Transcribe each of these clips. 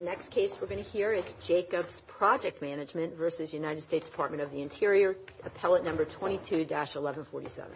Next case we're going to hear is Jacobs Project Management v. United States Department of the Interior, appellate number 22-1147. Jacobs Project Management v. United States Department of the Interior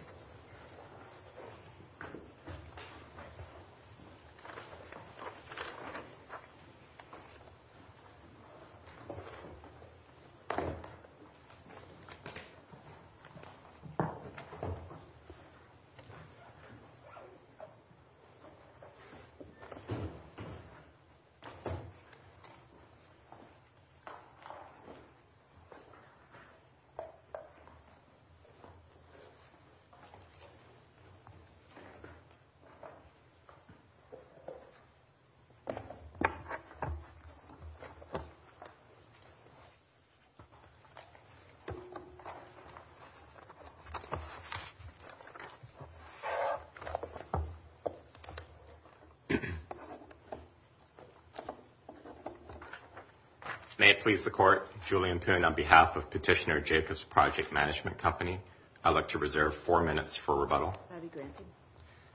May it please the Court, Julian Poon on behalf of Petitioner Jacobs Project Management Company, I'd like to reserve four minutes for rebuttal.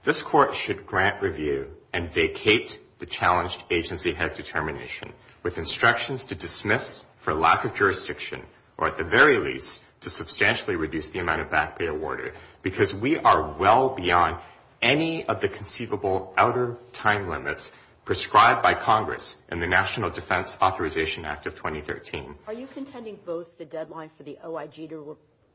This Court should grant review and vacate the challenged agency head determination with instructions to dismiss for lack of jurisdiction, or at the very least, to substantially reduce the amount of back pay awarded, because we are well beyond any of the conceivable outer time limits prescribed by Congress in the national law. This Court should grant review and vacate the challenged agency head determination with instructions to dismiss for lack of jurisdiction, or at the very least, to substantially reduce the amount of back pay awarded, because we are well beyond any of the conceivable outer time limits prescribed by Congress in the national law. 90 days to act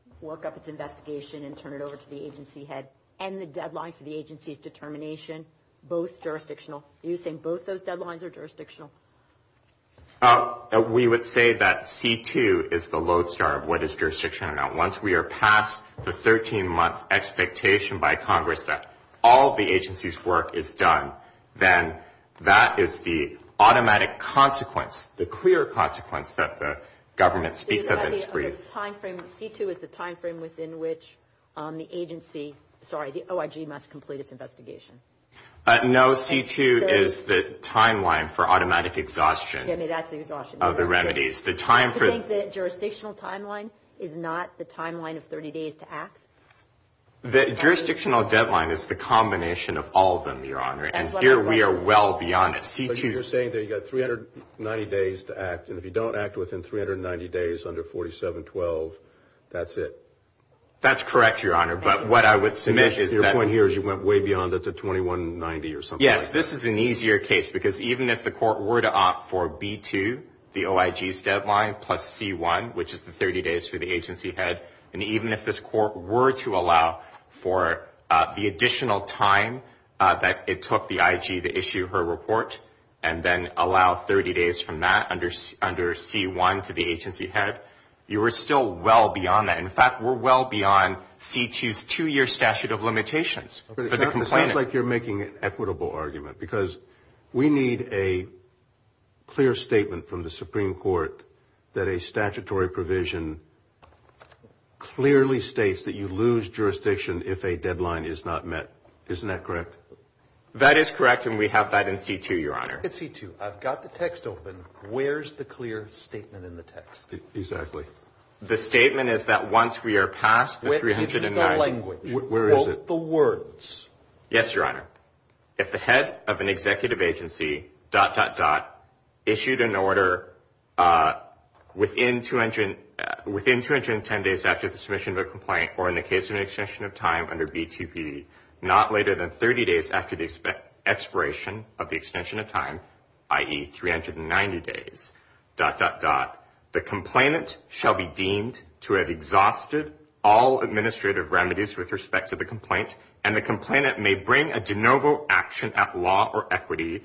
and if you don't act within 390 days under 4712, that's it. That's correct, Your Honor, but what I would submit is that- Yes, this is an easier case because even if the court were to opt for B2, the OIG's deadline, plus C1, which is the 30 days for the agency head, and even if this court were to allow for the additional time that it took the IG to issue her report and then allow 30 days from that under C1 to the agency head, you are still well beyond that. In fact, we're well beyond C2's two-year statute of limitations for the complainant. It sounds like you're making an equitable argument because we need a clear statement from the Supreme Court that a statutory provision clearly states that you lose jurisdiction if a deadline is not met. Isn't that correct? That is correct and we have that in C2, Your Honor. In C2, I've got the text open. Where's the clear statement in the text? Exactly. The statement is that once we are past the 390- Where is it in the language? Where is it? Quote the words. Yes, Your Honor. If the head of an executive agency... issued an order within 210 days after the submission of a complaint or in the case of an extension of time under B2PD not later than 30 days after the expiration of the extension of time, i.e., 390 days... the complainant shall be deemed to have exhausted all administrative remedies with respect to the complaint and the complainant may bring a de novo action at law or equity...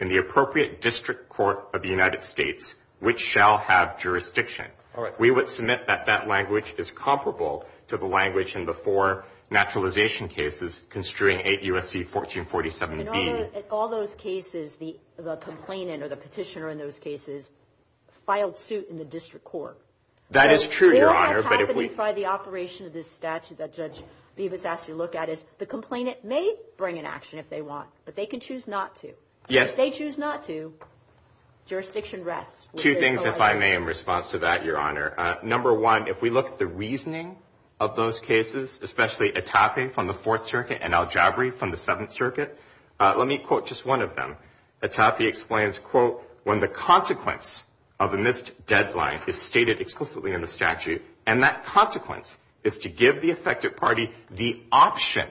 in the appropriate district court of the United States which shall have jurisdiction. All right. We would submit that that language is comparable to the language in the four naturalization cases construing 8 U.S.C. 1447B. In all those cases, the complainant or the petitioner in those cases filed suit in the district court. That is true, Your Honor, but if we... We don't have to identify the operation of this statute that Judge Bevis asked you to look at. The complainant may bring an action if they want, but they can choose not to. Yes. If they choose not to, jurisdiction rests. Two things, if I may, in response to that, Your Honor. Number one, if we look at the reasoning of those cases, especially Atape from the Fourth Circuit and Aljabri from the Seventh Circuit, let me quote just one of them. Atape explains, quote, when the consequence of a missed deadline is stated explicitly in the statute and that consequence is to give the affected party the option...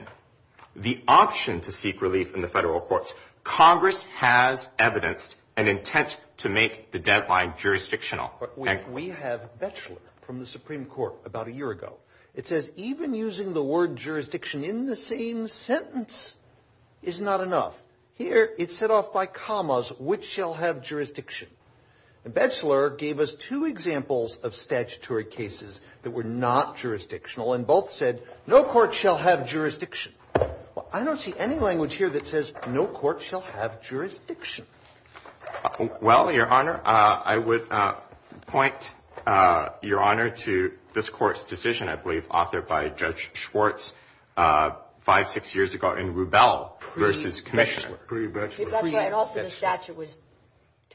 the option to seek relief in the federal courts. Congress has evidenced an intent to make the deadline jurisdictional. We have Batchelor from the Supreme Court about a year ago. It says even using the word jurisdiction in the same sentence is not enough. Here it's set off by commas, which shall have jurisdiction. Batchelor gave us two examples of statutory cases that were not jurisdictional and both said no court shall have jurisdiction. I don't see any language here that says no court shall have jurisdiction. Well, Your Honor, I would point Your Honor to this Court's decision, I believe, authored by Judge Schwartz five, six years ago in Rubel v. Commissioner. Pre-Batchelor. That's right. And also the statute was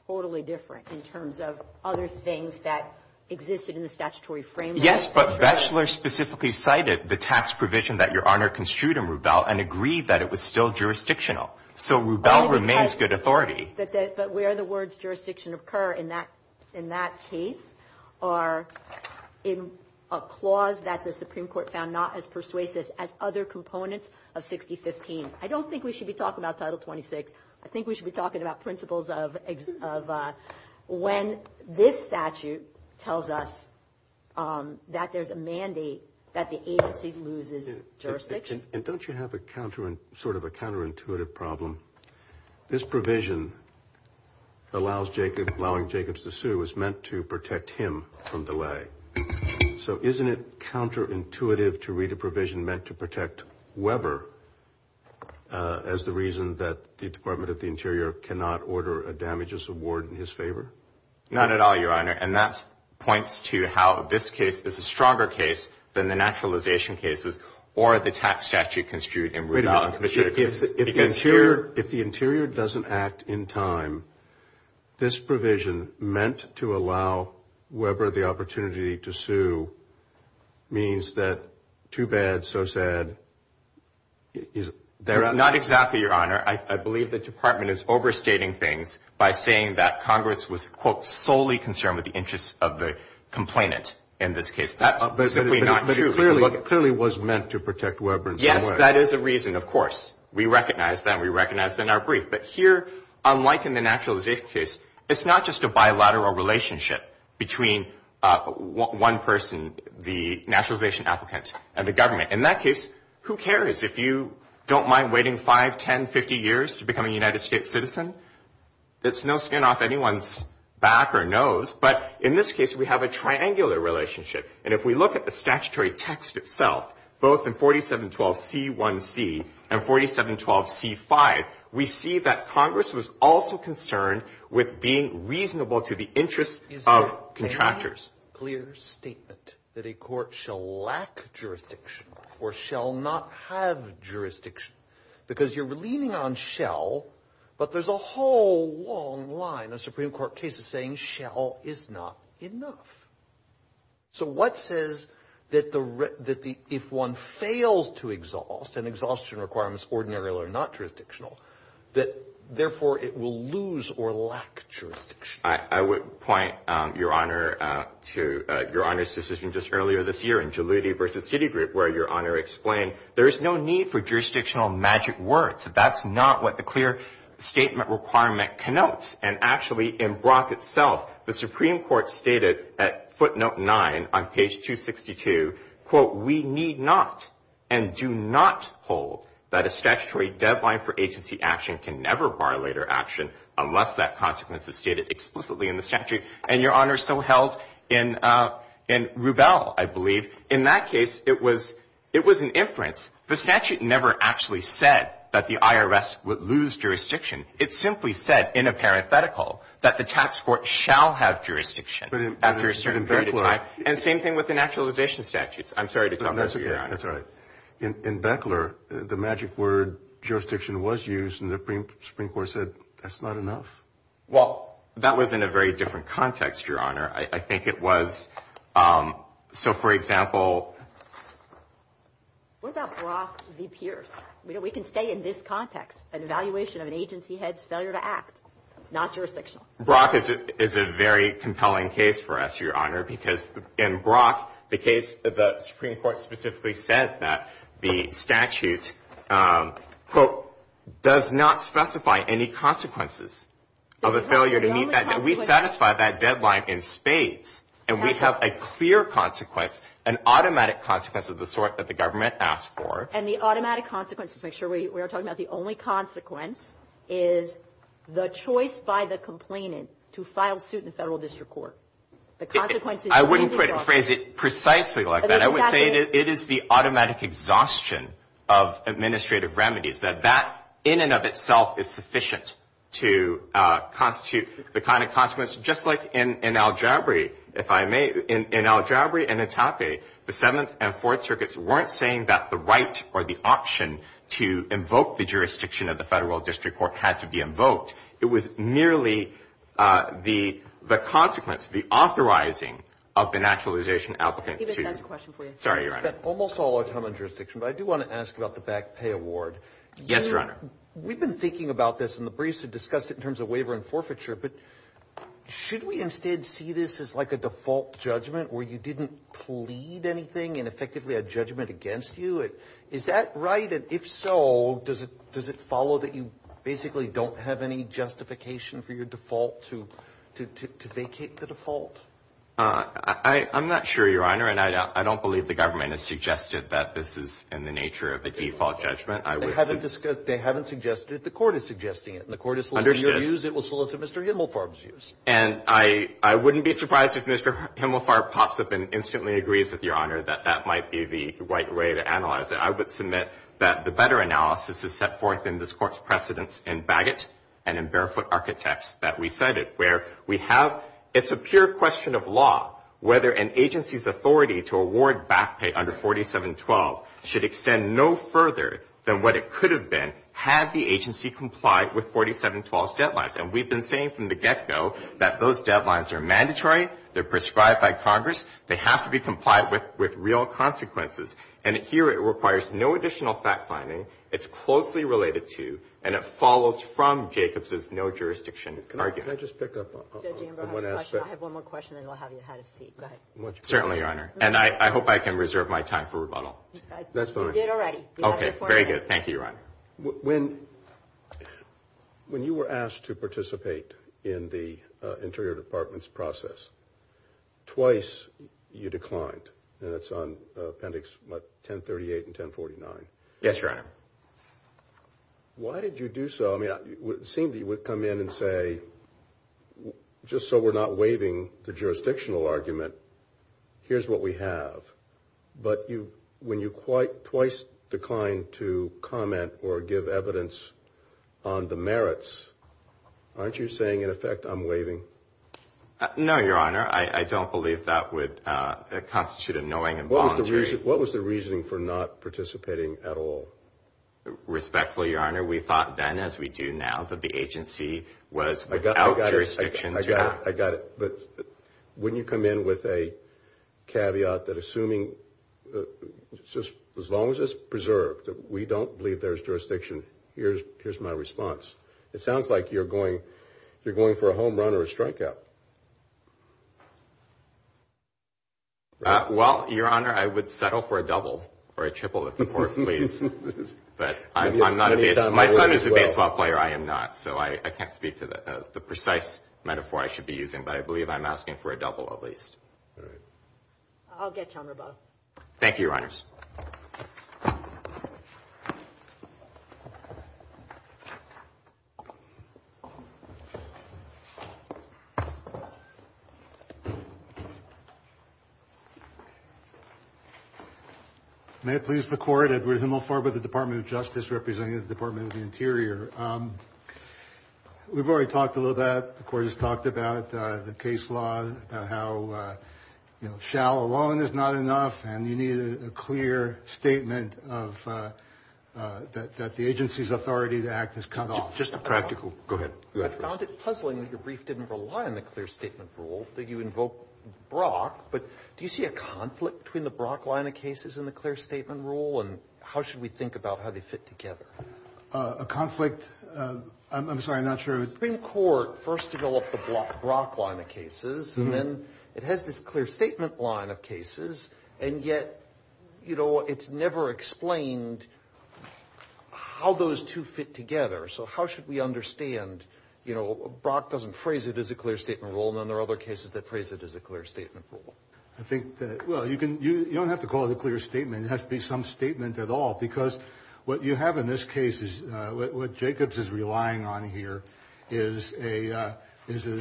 totally different in terms of other things that existed in the statutory framework. Yes, but Batchelor specifically cited the tax provision that Your Honor construed in Rubel and agreed that it was still jurisdictional. So Rubel remains good authority. But where the words jurisdiction occur in that case are in a clause that the Supreme Court found not as persuasive as other components of 6015. I don't think we should be talking about Title 26. I think we should be talking about principles of when this statute tells us that there's a mandate that the agency loses jurisdiction. And don't you have sort of a counterintuitive problem? This provision allowing Jacobs to sue is meant to protect him from delay. So isn't it counterintuitive to read a provision meant to protect Weber as the reason that the Department of the Interior cannot order a damages award in his favor? Not at all, Your Honor. And that points to how this case is a stronger case than the naturalization cases or the tax statute construed in Rubel. If the Interior doesn't act in time, this provision meant to allow Weber the opportunity to sue means that too bad, so said. Not exactly, Your Honor. I believe the Department is overstating things by saying that Congress was, quote, solely concerned with the interests of the complainant in this case. That's simply not true. But it clearly was meant to protect Weber. Yes, that is a reason, of course. We recognize that. We recognize that in our brief. But here, unlike in the naturalization case, it's not just a bilateral relationship between one person, the naturalization applicant, and the government. In that case, who cares if you don't mind waiting 5, 10, 50 years to become a United States citizen? It's no skin off anyone's back or nose. But in this case, we have a triangular relationship. And if we look at the statutory text itself, both in 4712c1c and 4712c5, we see that Congress was also concerned with being reasonable to the interests of contractors. There's a clear statement that a court shall lack jurisdiction or shall not have jurisdiction. Because you're leaning on shall, but there's a whole long line of Supreme Court cases saying shall is not enough. So what says that if one fails to exhaust and exhaustion requirements ordinarily are not jurisdictional, that, therefore, it will lose or lack jurisdiction? I would point, Your Honor, to Your Honor's decision just earlier this year in Jaluti v. Citigroup, where Your Honor explained there is no need for jurisdictional magic words. That's not what the clear statement requirement connotes. And, actually, in Brock itself, the Supreme Court stated at footnote 9 on page 262, quote, we need not and do not hold that a statutory deadline for agency action can never bar later action unless that consequence is stated explicitly in the statute. And, Your Honor, so held in Rubel, I believe. In that case, it was an inference. The statute never actually said that the IRS would lose jurisdiction. It simply said in a parenthetical that the tax court shall have jurisdiction after a certain period of time. And same thing with the naturalization statutes. I'm sorry to come back to you, Your Honor. That's all right. In Beckler, the magic word jurisdiction was used, and the Supreme Court said that's not enough. Well, that was in a very different context, Your Honor. I think it was. So, for example, what about Brock v. Pierce? We can stay in this context, an evaluation of an agency head's failure to act, not jurisdictional. Brock is a very compelling case for us, Your Honor, because in Brock, the case that the Supreme Court specifically said that the statute, quote, does not specify any consequences of a failure to meet that deadline. We satisfy that deadline in spades. And we have a clear consequence, an automatic consequence of the sort that the government asked for. And the automatic consequence, to make sure we are talking about the only consequence, is the choice by the complainant to file suit in federal district court. I wouldn't phrase it precisely like that. I would say that it is the automatic exhaustion of administrative remedies, that that in and of itself is sufficient to constitute the kind of consequence, just like in Aljabri, if I may. In Aljabri and in Tape, the Seventh and Fourth Circuits weren't saying that the right or the option to invoke the jurisdiction of the federal district court had to be invoked. It was merely the consequence, the authorizing of the naturalization applicant to. Even if that's a question for you. Sorry, Your Honor. We've spent almost all our time on jurisdiction, but I do want to ask about the back pay award. Yes, Your Honor. We've been thinking about this in the briefs and discussed it in terms of waiver and forfeiture, but should we instead see this as like a default judgment where you didn't plead anything and effectively a judgment against you? Is that right? And if so, does it follow that you basically don't have any justification for your default to vacate the default? I'm not sure, Your Honor, and I don't believe the government has suggested that this is in the nature of a default judgment. They haven't suggested it. The court is suggesting it. And the court is soliciting your views. It will solicit Mr. Himmelfarb's views. And I wouldn't be surprised if Mr. Himmelfarb pops up and instantly agrees with Your Honor that that might be the right way to analyze it. I would submit that the better analysis is set forth in this Court's precedents in Bagot and in Barefoot Architects that we cited, where we have it's a pure question of law whether an agency's authority to award back pay under 4712 should extend no further than what it could have been had the agency complied with 4712's deadlines. And we've been saying from the get-go that those deadlines are mandatory. They're prescribed by Congress. They have to be complied with with real consequences. And here it requires no additional fact-finding. It's closely related to, and it follows from, Jacobs's no-jurisdiction argument. Can I just pick up on one aspect? I have one more question, and then I'll have you ahead of seat. Go ahead. Certainly, Your Honor. And I hope I can reserve my time for rebuttal. That's fine. You did already. Okay. Very good. Thank you, Your Honor. When you were asked to participate in the Interior Department's process, twice you declined, and that's on Appendix 1038 and 1049. Yes, Your Honor. Why did you do so? I mean, it seemed you would come in and say, just so we're not waiving the jurisdictional argument, here's what we have. But when you twice declined to comment or give evidence on the merits, aren't you saying, in effect, I'm waiving? No, Your Honor. I don't believe that would constitute a knowing and volunteering. What was the reasoning for not participating at all? Respectfully, Your Honor, we thought then, as we do now, that the agency was without jurisdiction to act. I got it. But wouldn't you come in with a caveat that assuming, as long as it's preserved, that we don't believe there's jurisdiction, here's my response. It sounds like you're going for a home run or a strikeout. Well, Your Honor, I would settle for a double or a triple, if the Court pleases. But my son is a baseball player. I am not. So I can't speak to the precise metaphor I should be using. But I believe I'm asking for a double, at least. All right. I'll get you on rebuttal. Thank you, Your Honors. May it please the Court, Edward Himelfarb of the Department of Justice representing the Department of the Interior. We've already talked a little bit. The Court has talked about the case law, about how, you know, shall alone is not enough. And you need a clear statement of that the agency's authority to act is cut off. Just a practical question. Go ahead. I found it puzzling that your brief didn't rely on the clear statement rule, that you invoke Brock. But do you see a conflict between the Brock line of cases and the clear statement rule? And how should we think about how they fit together? A conflict? I'm sorry. I'm not sure. The Supreme Court first developed the Brock line of cases. And then it has this clear statement line of cases. And yet, you know, it's never explained how those two fit together. So how should we understand, you know, Brock doesn't phrase it as a clear statement rule. And then there are other cases that phrase it as a clear statement rule. I think that, well, you don't have to call it a clear statement. It has to be some statement at all. Because what you have in this case is what Jacobs is relying on here is an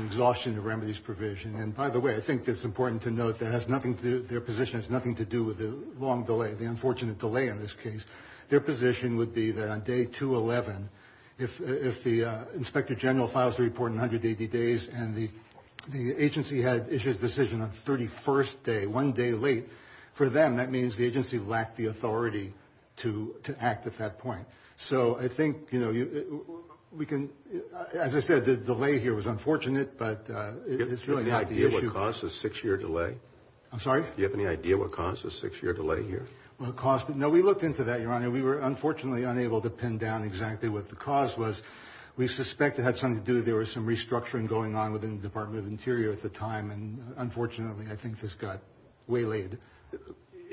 exhaustion of remedies provision. And, by the way, I think it's important to note that their position has nothing to do with the long delay, the unfortunate delay in this case. Their position would be that on day 211, if the inspector general files the report in 180 days and the agency had issued a decision on the 31st day, one day late, for them, that means the agency lacked the authority to act at that point. So I think, you know, we can, as I said, the delay here was unfortunate, but it's really not the issue. Do you have any idea what caused the six-year delay? I'm sorry? Do you have any idea what caused the six-year delay here? What caused it? No, we looked into that, Your Honor. We were, unfortunately, unable to pin down exactly what the cause was. We suspect it had something to do with there was some restructuring going on within the Department of Interior at the time. And, unfortunately, I think this got waylaid.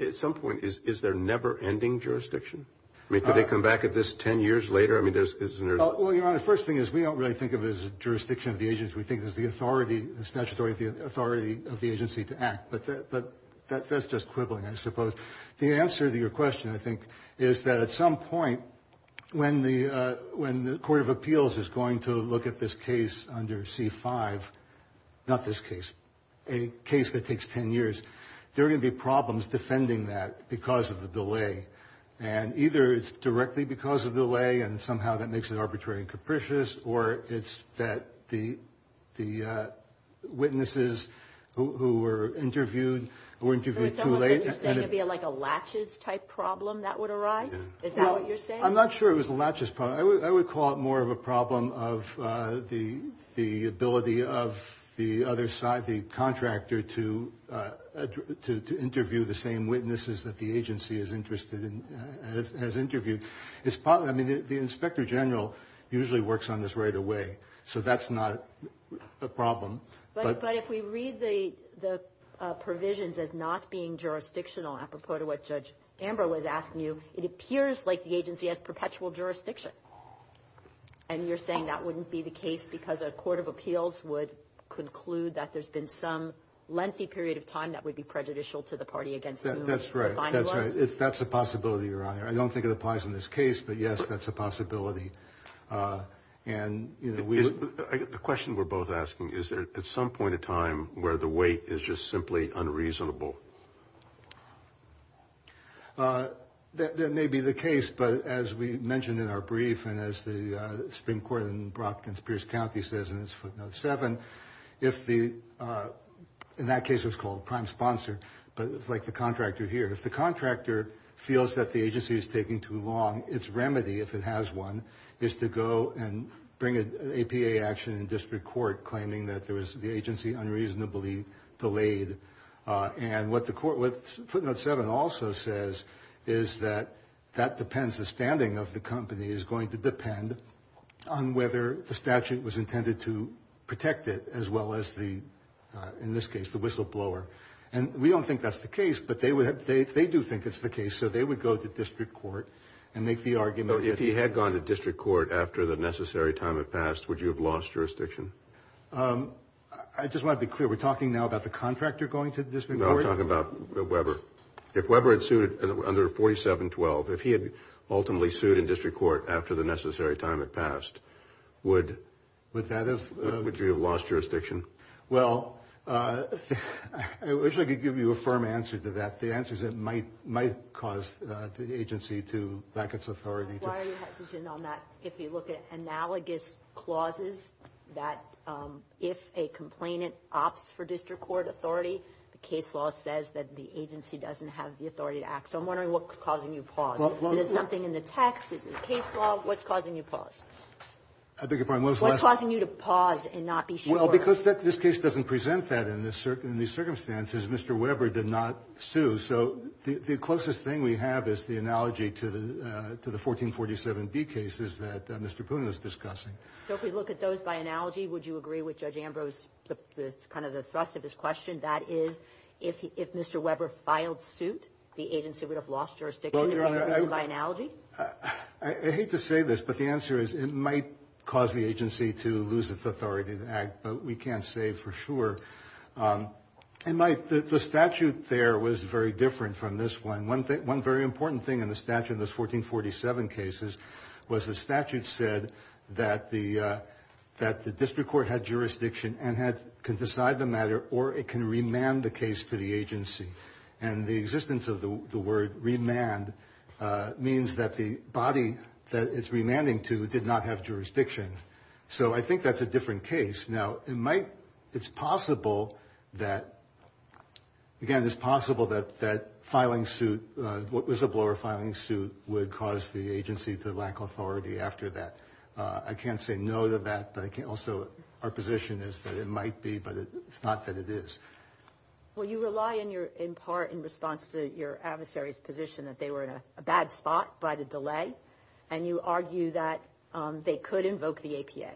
At some point, is there never-ending jurisdiction? I mean, could they come back at this 10 years later? I mean, isn't there? Well, Your Honor, the first thing is we don't really think of it as a jurisdiction of the agency. We think of it as the authority, the statutory authority of the agency to act. But that's just quibbling, I suppose. The answer to your question, I think, is that at some point, when the Court of takes 10 years, there are going to be problems defending that because of the delay. And either it's directly because of the delay and somehow that makes it arbitrary and capricious, or it's that the witnesses who were interviewed were interviewed too late. So it's almost like you're saying it would be like a latches-type problem that would arise? Is that what you're saying? I'm not sure it was a latches problem. I would call it more of a problem of the ability of the other side, the contractor, to interview the same witnesses that the agency is interested in, has interviewed. I mean, the Inspector General usually works on this right away, so that's not a problem. But if we read the provisions as not being jurisdictional, apropos to what Judge Amber was asking you, it appears like the agency has perpetual jurisdiction. And you're saying that wouldn't be the case because a court of appeals would conclude that there's been some lengthy period of time that would be prejudicial to the party against whom it's defined as? That's right. That's right. That's a possibility, Your Honor. I don't think it applies in this case, but, yes, that's a possibility. The question we're both asking, is there at some point in time where the weight is just simply unreasonable? That may be the case, but as we mentioned in our brief and as the Supreme Court in Brockton Pierce County says in its footnote 7, if the – in that case it was called prime sponsor, but it's like the contractor here. If the contractor feels that the agency is taking too long, its remedy, if it has one, is to go and bring an APA action in district court claiming that there was the agency unreasonably delayed. And what the court – what footnote 7 also says is that that depends – the standing of the company is going to depend on whether the statute was intended to protect it as well as the – in this case, the whistleblower. And we don't think that's the case, but they would have – they do think it's the case, so they would go to district court and make the argument. So if he had gone to district court after the necessary time had passed, would you have lost jurisdiction? I just want to be clear. We're talking now about the contractor going to district court? No, we're talking about Weber. If Weber had sued under 4712, if he had ultimately sued in district court after the necessary time had passed, would – Would that have – Would you have lost jurisdiction? Well, I wish I could give you a firm answer to that, the answers that might cause the agency to lack its authority. Why are you hesitant on that if you look at analogous clauses that if a complainant opts for district court authority, the case law says that the agency doesn't have the authority to act? So I'm wondering what's causing you to pause. Is it something in the text? Is it a case law? What's causing you to pause? I beg your pardon, what was the last – What's causing you to pause and not be sure? Mr. Weber did not sue. So the closest thing we have is the analogy to the 1447B cases that Mr. Poonen was discussing. So if we look at those by analogy, would you agree with Judge Ambrose, kind of the thrust of his question, that is if Mr. Weber filed suit, the agency would have lost jurisdiction? Well, Your Honor, I – By analogy? I hate to say this, but the answer is it might cause the agency to lose its authority to act, but we can't say for sure. And the statute there was very different from this one. One very important thing in the statute in those 1447 cases was the statute said that the district court had jurisdiction and could decide the matter or it can remand the case to the agency. And the existence of the word remand means that the body that it's remanding to did not have jurisdiction. So I think that's a different case. Now, it might – it's possible that – again, it's possible that filing suit, what was a blower filing suit, would cause the agency to lack authority after that. I can't say no to that, but I can also – our position is that it might be, but it's not that it is. Well, you rely in your – in part in response to your adversary's position that they were in a bad spot by the delay, and you argue that they could invoke the APA.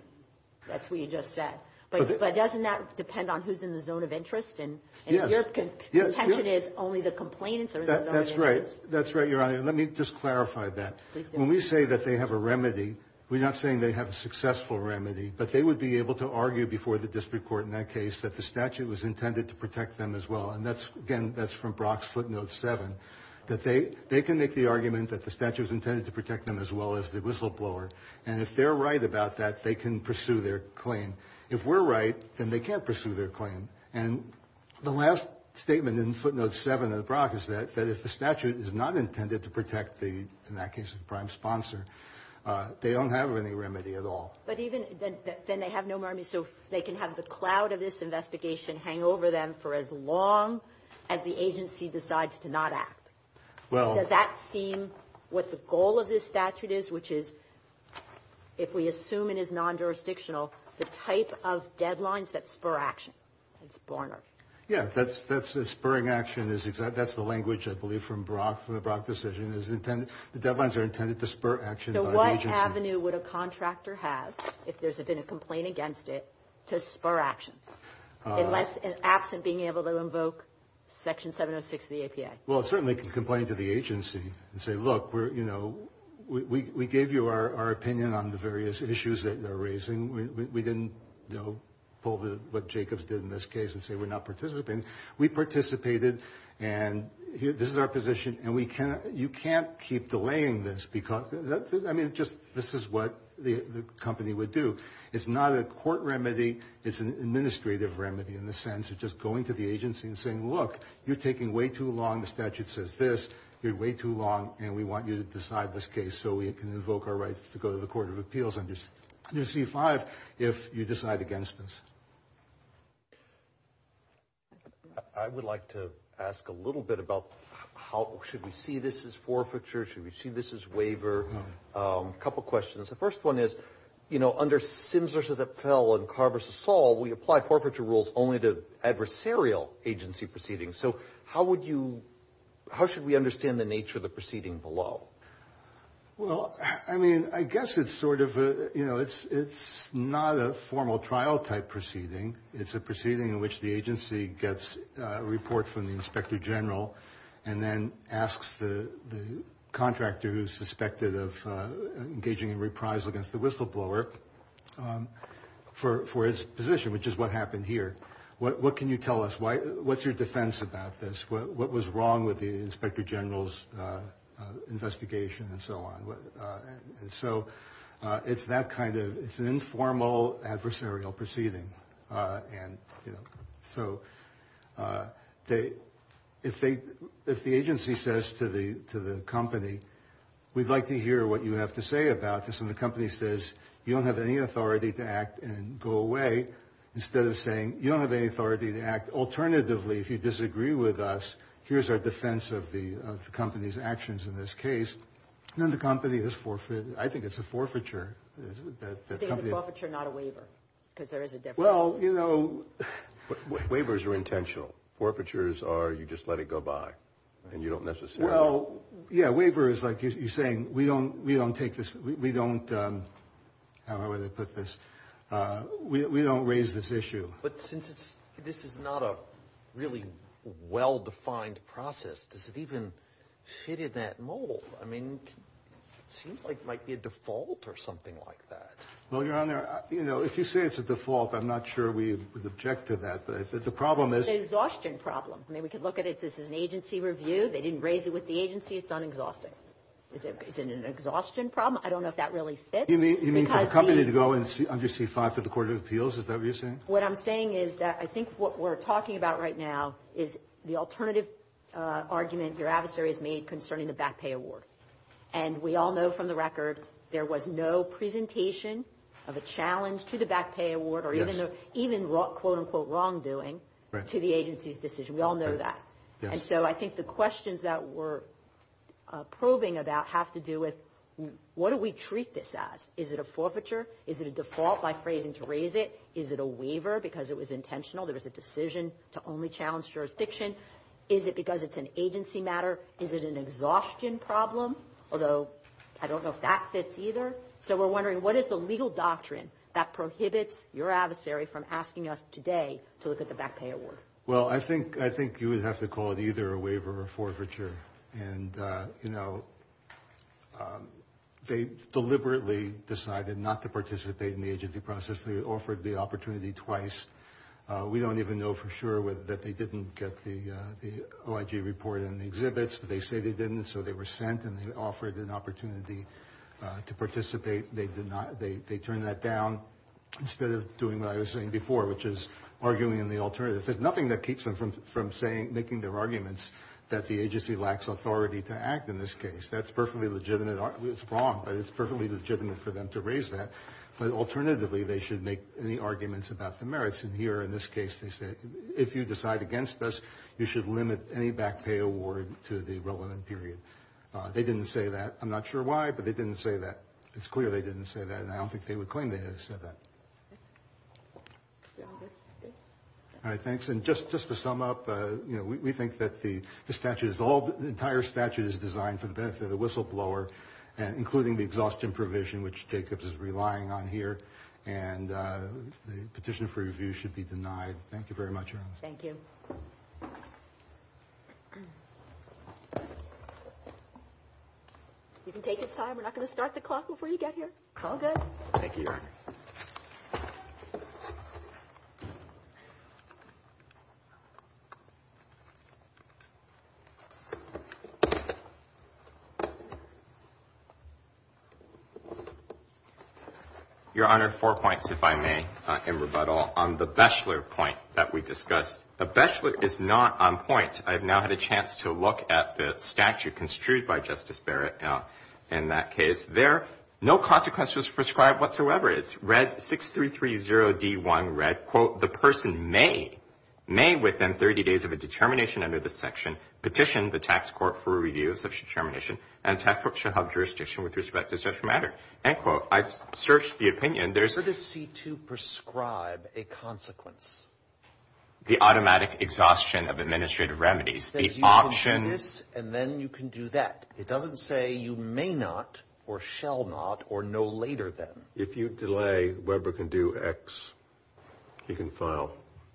That's what you just said. But doesn't that depend on who's in the zone of interest? Yes. And your contention is only the complainants are in the zone of interest. That's right. That's right, Your Honor. Let me just clarify that. Please do. When we say that they have a remedy, we're not saying they have a successful remedy, but they would be able to argue before the district court in that case that the statute was intended to protect them as well. And that's – again, that's from Brock's footnote 7, that they can make the argument that the statute was intended to protect them as well as the whistleblower. And if they're right about that, they can pursue their claim. If we're right, then they can't pursue their claim. And the last statement in footnote 7 of Brock is that if the statute is not intended to protect the – in that case, the prime sponsor, they don't have any remedy at all. But even – then they have no remedy, so they can have the cloud of this investigation hang over them for as long as the agency decides to not act. Well – Does that seem what the goal of this statute is, which is, if we assume it is non-jurisdictional, the type of deadlines that spur action? It's Barnard. Yeah. That's a spurring action. That's the language, I believe, from Brock, from the Brock decision. It's intended – the deadlines are intended to spur action by the agency. So what avenue would a contractor have, if there's been a complaint against it, to spur action, unless – absent being able to invoke Section 706 of the APA? Well, it certainly can complain to the agency and say, look, we're – you know, we gave you our opinion on the various issues that they're raising. We didn't, you know, pull what Jacobs did in this case and say we're not participating. We participated, and this is our position, and we can – you can't keep delaying this because – I mean, just – this is what the company would do. It's not a court remedy. It's an administrative remedy in the sense of just going to the agency and saying, look, you're taking way too long. The statute says this. You're way too long, and we want you to decide this case so we can invoke our rights to go to the Court of Appeals under C-5 if you decide against this. I would like to ask a little bit about how – should we see this as forfeiture? Should we see this as waiver? A couple questions. The first one is, you know, under Sims v. Epfel and Carr v. Saul, we apply forfeiture rules only to adversarial agency proceedings. So how would you – how should we understand the nature of the proceeding below? Well, I mean, I guess it's sort of a – you know, it's not a formal trial-type proceeding. It's a proceeding in which the agency gets a report from the inspector general and then asks the contractor who's suspected of engaging in reprisal against the whistleblower for his position, which is what happened here. What can you tell us? What's your defense about this? What was wrong with the inspector general's investigation and so on? And so it's that kind of – it's an informal adversarial proceeding. And so if they – if the agency says to the company, we'd like to hear what you have to say about this, and the company says you don't have any authority to act and go away, instead of saying you don't have any authority to act. Alternatively, if you disagree with us, here's our defense of the company's actions in this case, then the company has forfeited. I think it's a forfeiture. State the forfeiture, not a waiver, because there is a difference. Well, you know – Waivers are intentional. Forfeitures are you just let it go by, and you don't necessarily – Well, yeah, waiver is like you're saying we don't take this – we don't – But since this is not a really well-defined process, does it even fit in that mold? I mean, it seems like it might be a default or something like that. Well, Your Honor, you know, if you say it's a default, I'm not sure we would object to that. The problem is – It's an exhaustion problem. I mean, we could look at it – this is an agency review. They didn't raise it with the agency. It's un-exhausting. Is it an exhaustion problem? I don't know if that really fits. You mean for the company to go under C-5 for the Court of Appeals? Is that what you're saying? What I'm saying is that I think what we're talking about right now is the alternative argument your adversary has made concerning the back pay award. And we all know from the record there was no presentation of a challenge to the back pay award or even quote-unquote wrongdoing to the agency's decision. We all know that. And so I think the questions that we're probing about have to do with what do we treat this as? Is it a forfeiture? Is it a default by phrasing to raise it? Is it a waiver because it was intentional? There was a decision to only challenge jurisdiction. Is it because it's an agency matter? Is it an exhaustion problem? Although I don't know if that fits either. So we're wondering what is the legal doctrine that prohibits your adversary from asking us today to look at the back pay award? Well, I think you would have to call it either a waiver or forfeiture. And, you know, they deliberately decided not to participate in the agency process. They offered the opportunity twice. We don't even know for sure that they didn't get the OIG report in the exhibits. They say they didn't, so they were sent and they offered an opportunity to participate. They did not. They turned that down instead of doing what I was saying before, which is arguing in the alternative. There's nothing that keeps them from making their arguments that the agency lacks authority to act in this case. That's perfectly legitimate. It's wrong, but it's perfectly legitimate for them to raise that. But alternatively, they should make any arguments about the merits. And here, in this case, they say if you decide against us, you should limit any back pay award to the relevant period. They didn't say that. I'm not sure why, but they didn't say that. It's clear they didn't say that, and I don't think they would claim they have said that. All right. Thanks. And just to sum up, we think that the statute, the entire statute is designed for the benefit of the whistleblower, including the exhaustion provision, which Jacobs is relying on here. And the petition for review should be denied. Thank you very much, Erin. Thank you. You can take your time. We're not going to start the clock before you get here. It's all good. Thank you, Your Honor. Your Honor, four points, if I may, in rebuttal. On the Beshler point that we discussed, the Beshler is not on point. I have now had a chance to look at the statute construed by Justice Barrett in that case. There, no consequence was prescribed whatsoever. It's read, 6330D1 read, quote, the person may, may within 30 days of a determination under this section, petition the tax court for a review of such a determination, and the tax court shall have jurisdiction with respect to such a matter. End quote. I've searched the opinion. Where does C-2 prescribe a consequence? The automatic exhaustion of administrative remedies. The options. You can do this, and then you can do that. It doesn't say you may not or shall not or no later than. If you delay, Weber can do X. He can file.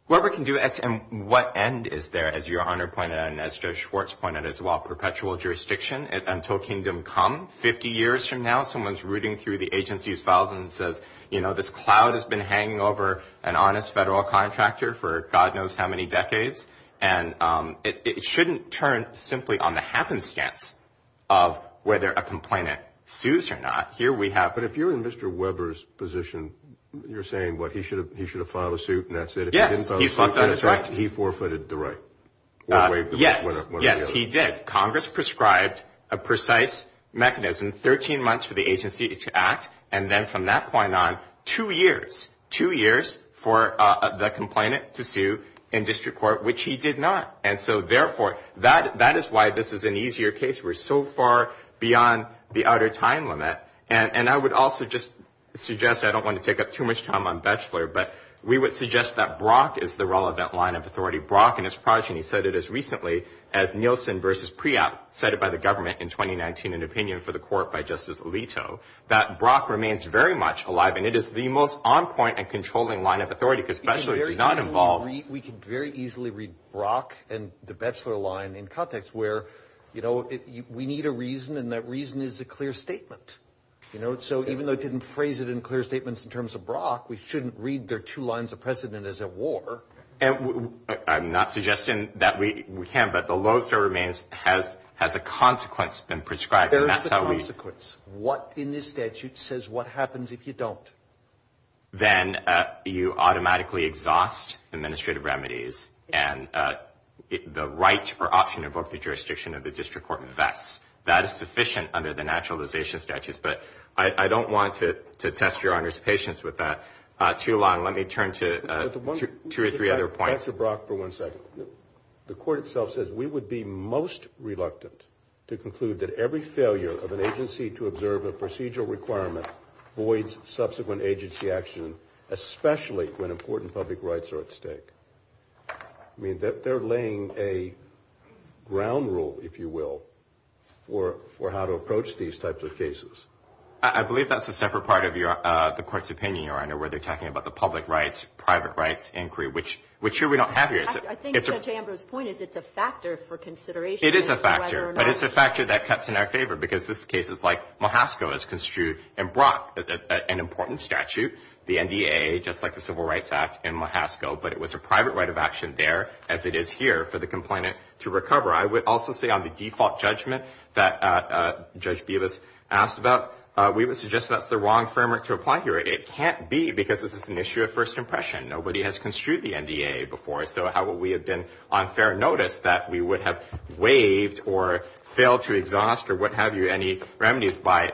Weber can do X, and what end is there, as Your Honor pointed out, and as Judge Schwartz pointed out as well, perpetual jurisdiction until kingdom come. Fifty years from now, someone's rooting through the agency's files and says, you know, this cloud has been hanging over an honest federal contractor for God knows how many decades, and it shouldn't turn simply on the happenstance of whether a complainant sues or not. Here we have. But if you're in Mr. Weber's position, you're saying, what, he should have filed a suit and that's it? Yes. He forfeited the right. Yes. Yes, he did. Congress prescribed a precise mechanism, 13 months for the agency to act, and then from that point on, two years, two years for the complainant to sue in district court, which he did not. And so, therefore, that is why this is an easier case. We're so far beyond the outer time limit. And I would also just suggest, I don't want to take up too much time on Batchelor, but we would suggest that Brock is the relevant line of authority. Brock and his progeny said it as recently as Nielsen v. by the government in 2019, an opinion for the court by Justice Alito, that Brock remains very much alive, and it is the most on point and controlling line of authority because Batchelor is not involved. We can very easily read Brock and the Batchelor line in context where, you know, we need a reason, and that reason is a clear statement, you know. So even though it didn't phrase it in clear statements in terms of Brock, we shouldn't read their two lines of precedent as at war. I'm not suggesting that we can't, but the lowest of remains has a consequence been prescribed. There is a consequence. What in this statute says what happens if you don't? Then you automatically exhaust administrative remedies, and the right or option to invoke the jurisdiction of the district court vests. That is sufficient under the naturalization statutes, but I don't want to test Your Honor's patience with that too long. Let me turn to two or three other points. Answer Brock for one second. The court itself says we would be most reluctant to conclude that every failure of an agency to observe a procedural requirement voids subsequent agency action, especially when important public rights are at stake. I mean, they're laying a ground rule, if you will, for how to approach these types of cases. I believe that's a separate part of the court's opinion, Your Honor, where they're talking about the public rights, private rights inquiry, which here we don't have here. I think Judge Amber's point is it's a factor for consideration. It is a factor, but it's a factor that cuts in our favor because this case is like Mahasco is construed in Brock, an important statute, the NDA, just like the Civil Rights Act in Mahasco, but it was a private right of action there as it is here for the complainant to recover. I would also say on the default judgment that Judge Bevis asked about, we would suggest that's the wrong framework to apply here. It can't be because this is an issue of first impression. Nobody has construed the NDA before, so how would we have been on fair notice that we would have waived or failed to exhaust or what have you any remedies by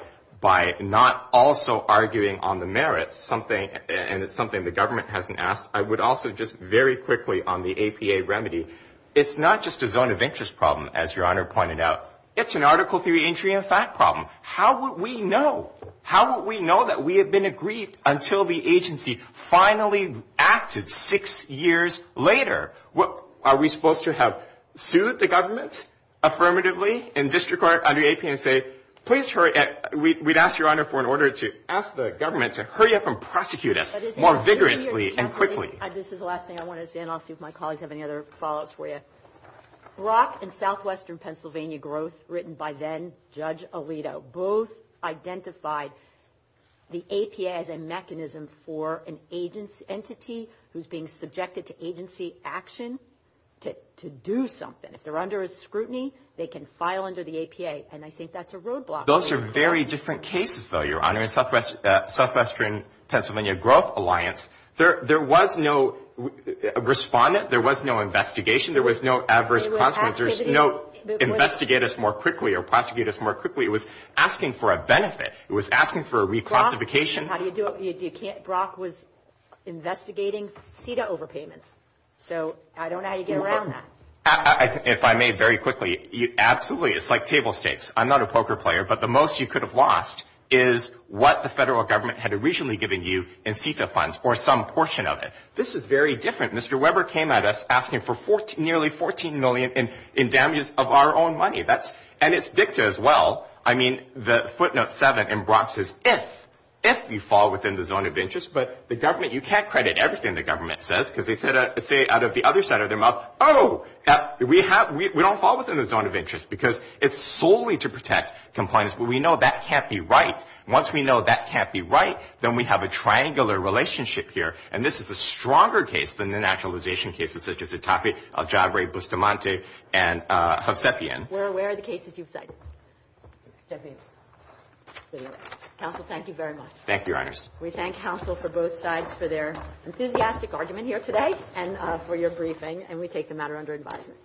not also arguing on the merits, and it's something the government hasn't asked. I would also just very quickly on the APA remedy, it's not just a zone of interest problem, as Your Honor pointed out. It's an article theory, injury, and fact problem. How would we know? How would we know that we have been aggrieved until the agency finally acted six years later? Are we supposed to have sued the government affirmatively in district court under APA and say, please hurry? We'd ask, Your Honor, for an order to ask the government to hurry up and prosecute us more vigorously and quickly. This is the last thing I wanted to say, and I'll see if my colleagues have any other follow-ups for you. Brock and Southwestern Pennsylvania Growth, written by then-Judge Alito, both identified the APA as a mechanism for an entity who's being subjected to agency action to do something. If they're under scrutiny, they can file under the APA, and I think that's a roadblock. Those are very different cases, though, Your Honor. In Southwestern Pennsylvania Growth Alliance, there was no respondent. There was no investigation. There was no adverse consequences. There was no investigate us more quickly or prosecute us more quickly. It was asking for a benefit. It was asking for a reclassification. Brock was investigating CETA overpayments, so I don't know how you get around that. If I may very quickly, absolutely. It's like table stakes. I'm not a poker player, but the most you could have lost is what the federal government had originally given you in CETA funds or some portion of it. This is very different. Mr. Weber came at us asking for nearly $14 million in damages of our own money, and it's dicta as well. I mean, the footnote 7 in Brock says if, if you fall within the zone of interest. But the government, you can't credit everything the government says because they say out of the other side of their mouth, oh, we don't fall within the zone of interest because it's solely to protect compliance. But we know that can't be right. Once we know that can't be right, then we have a triangular relationship here, and this is a stronger case than the nationalization cases such as Itape, Aljabre, Bustamante, and Hovsepian. We're aware of the cases you've cited. Counsel, thank you very much. Thank you, Your Honors. We thank counsel for both sides for their enthusiastic argument here today and for your briefing, and we take the matter under advisement.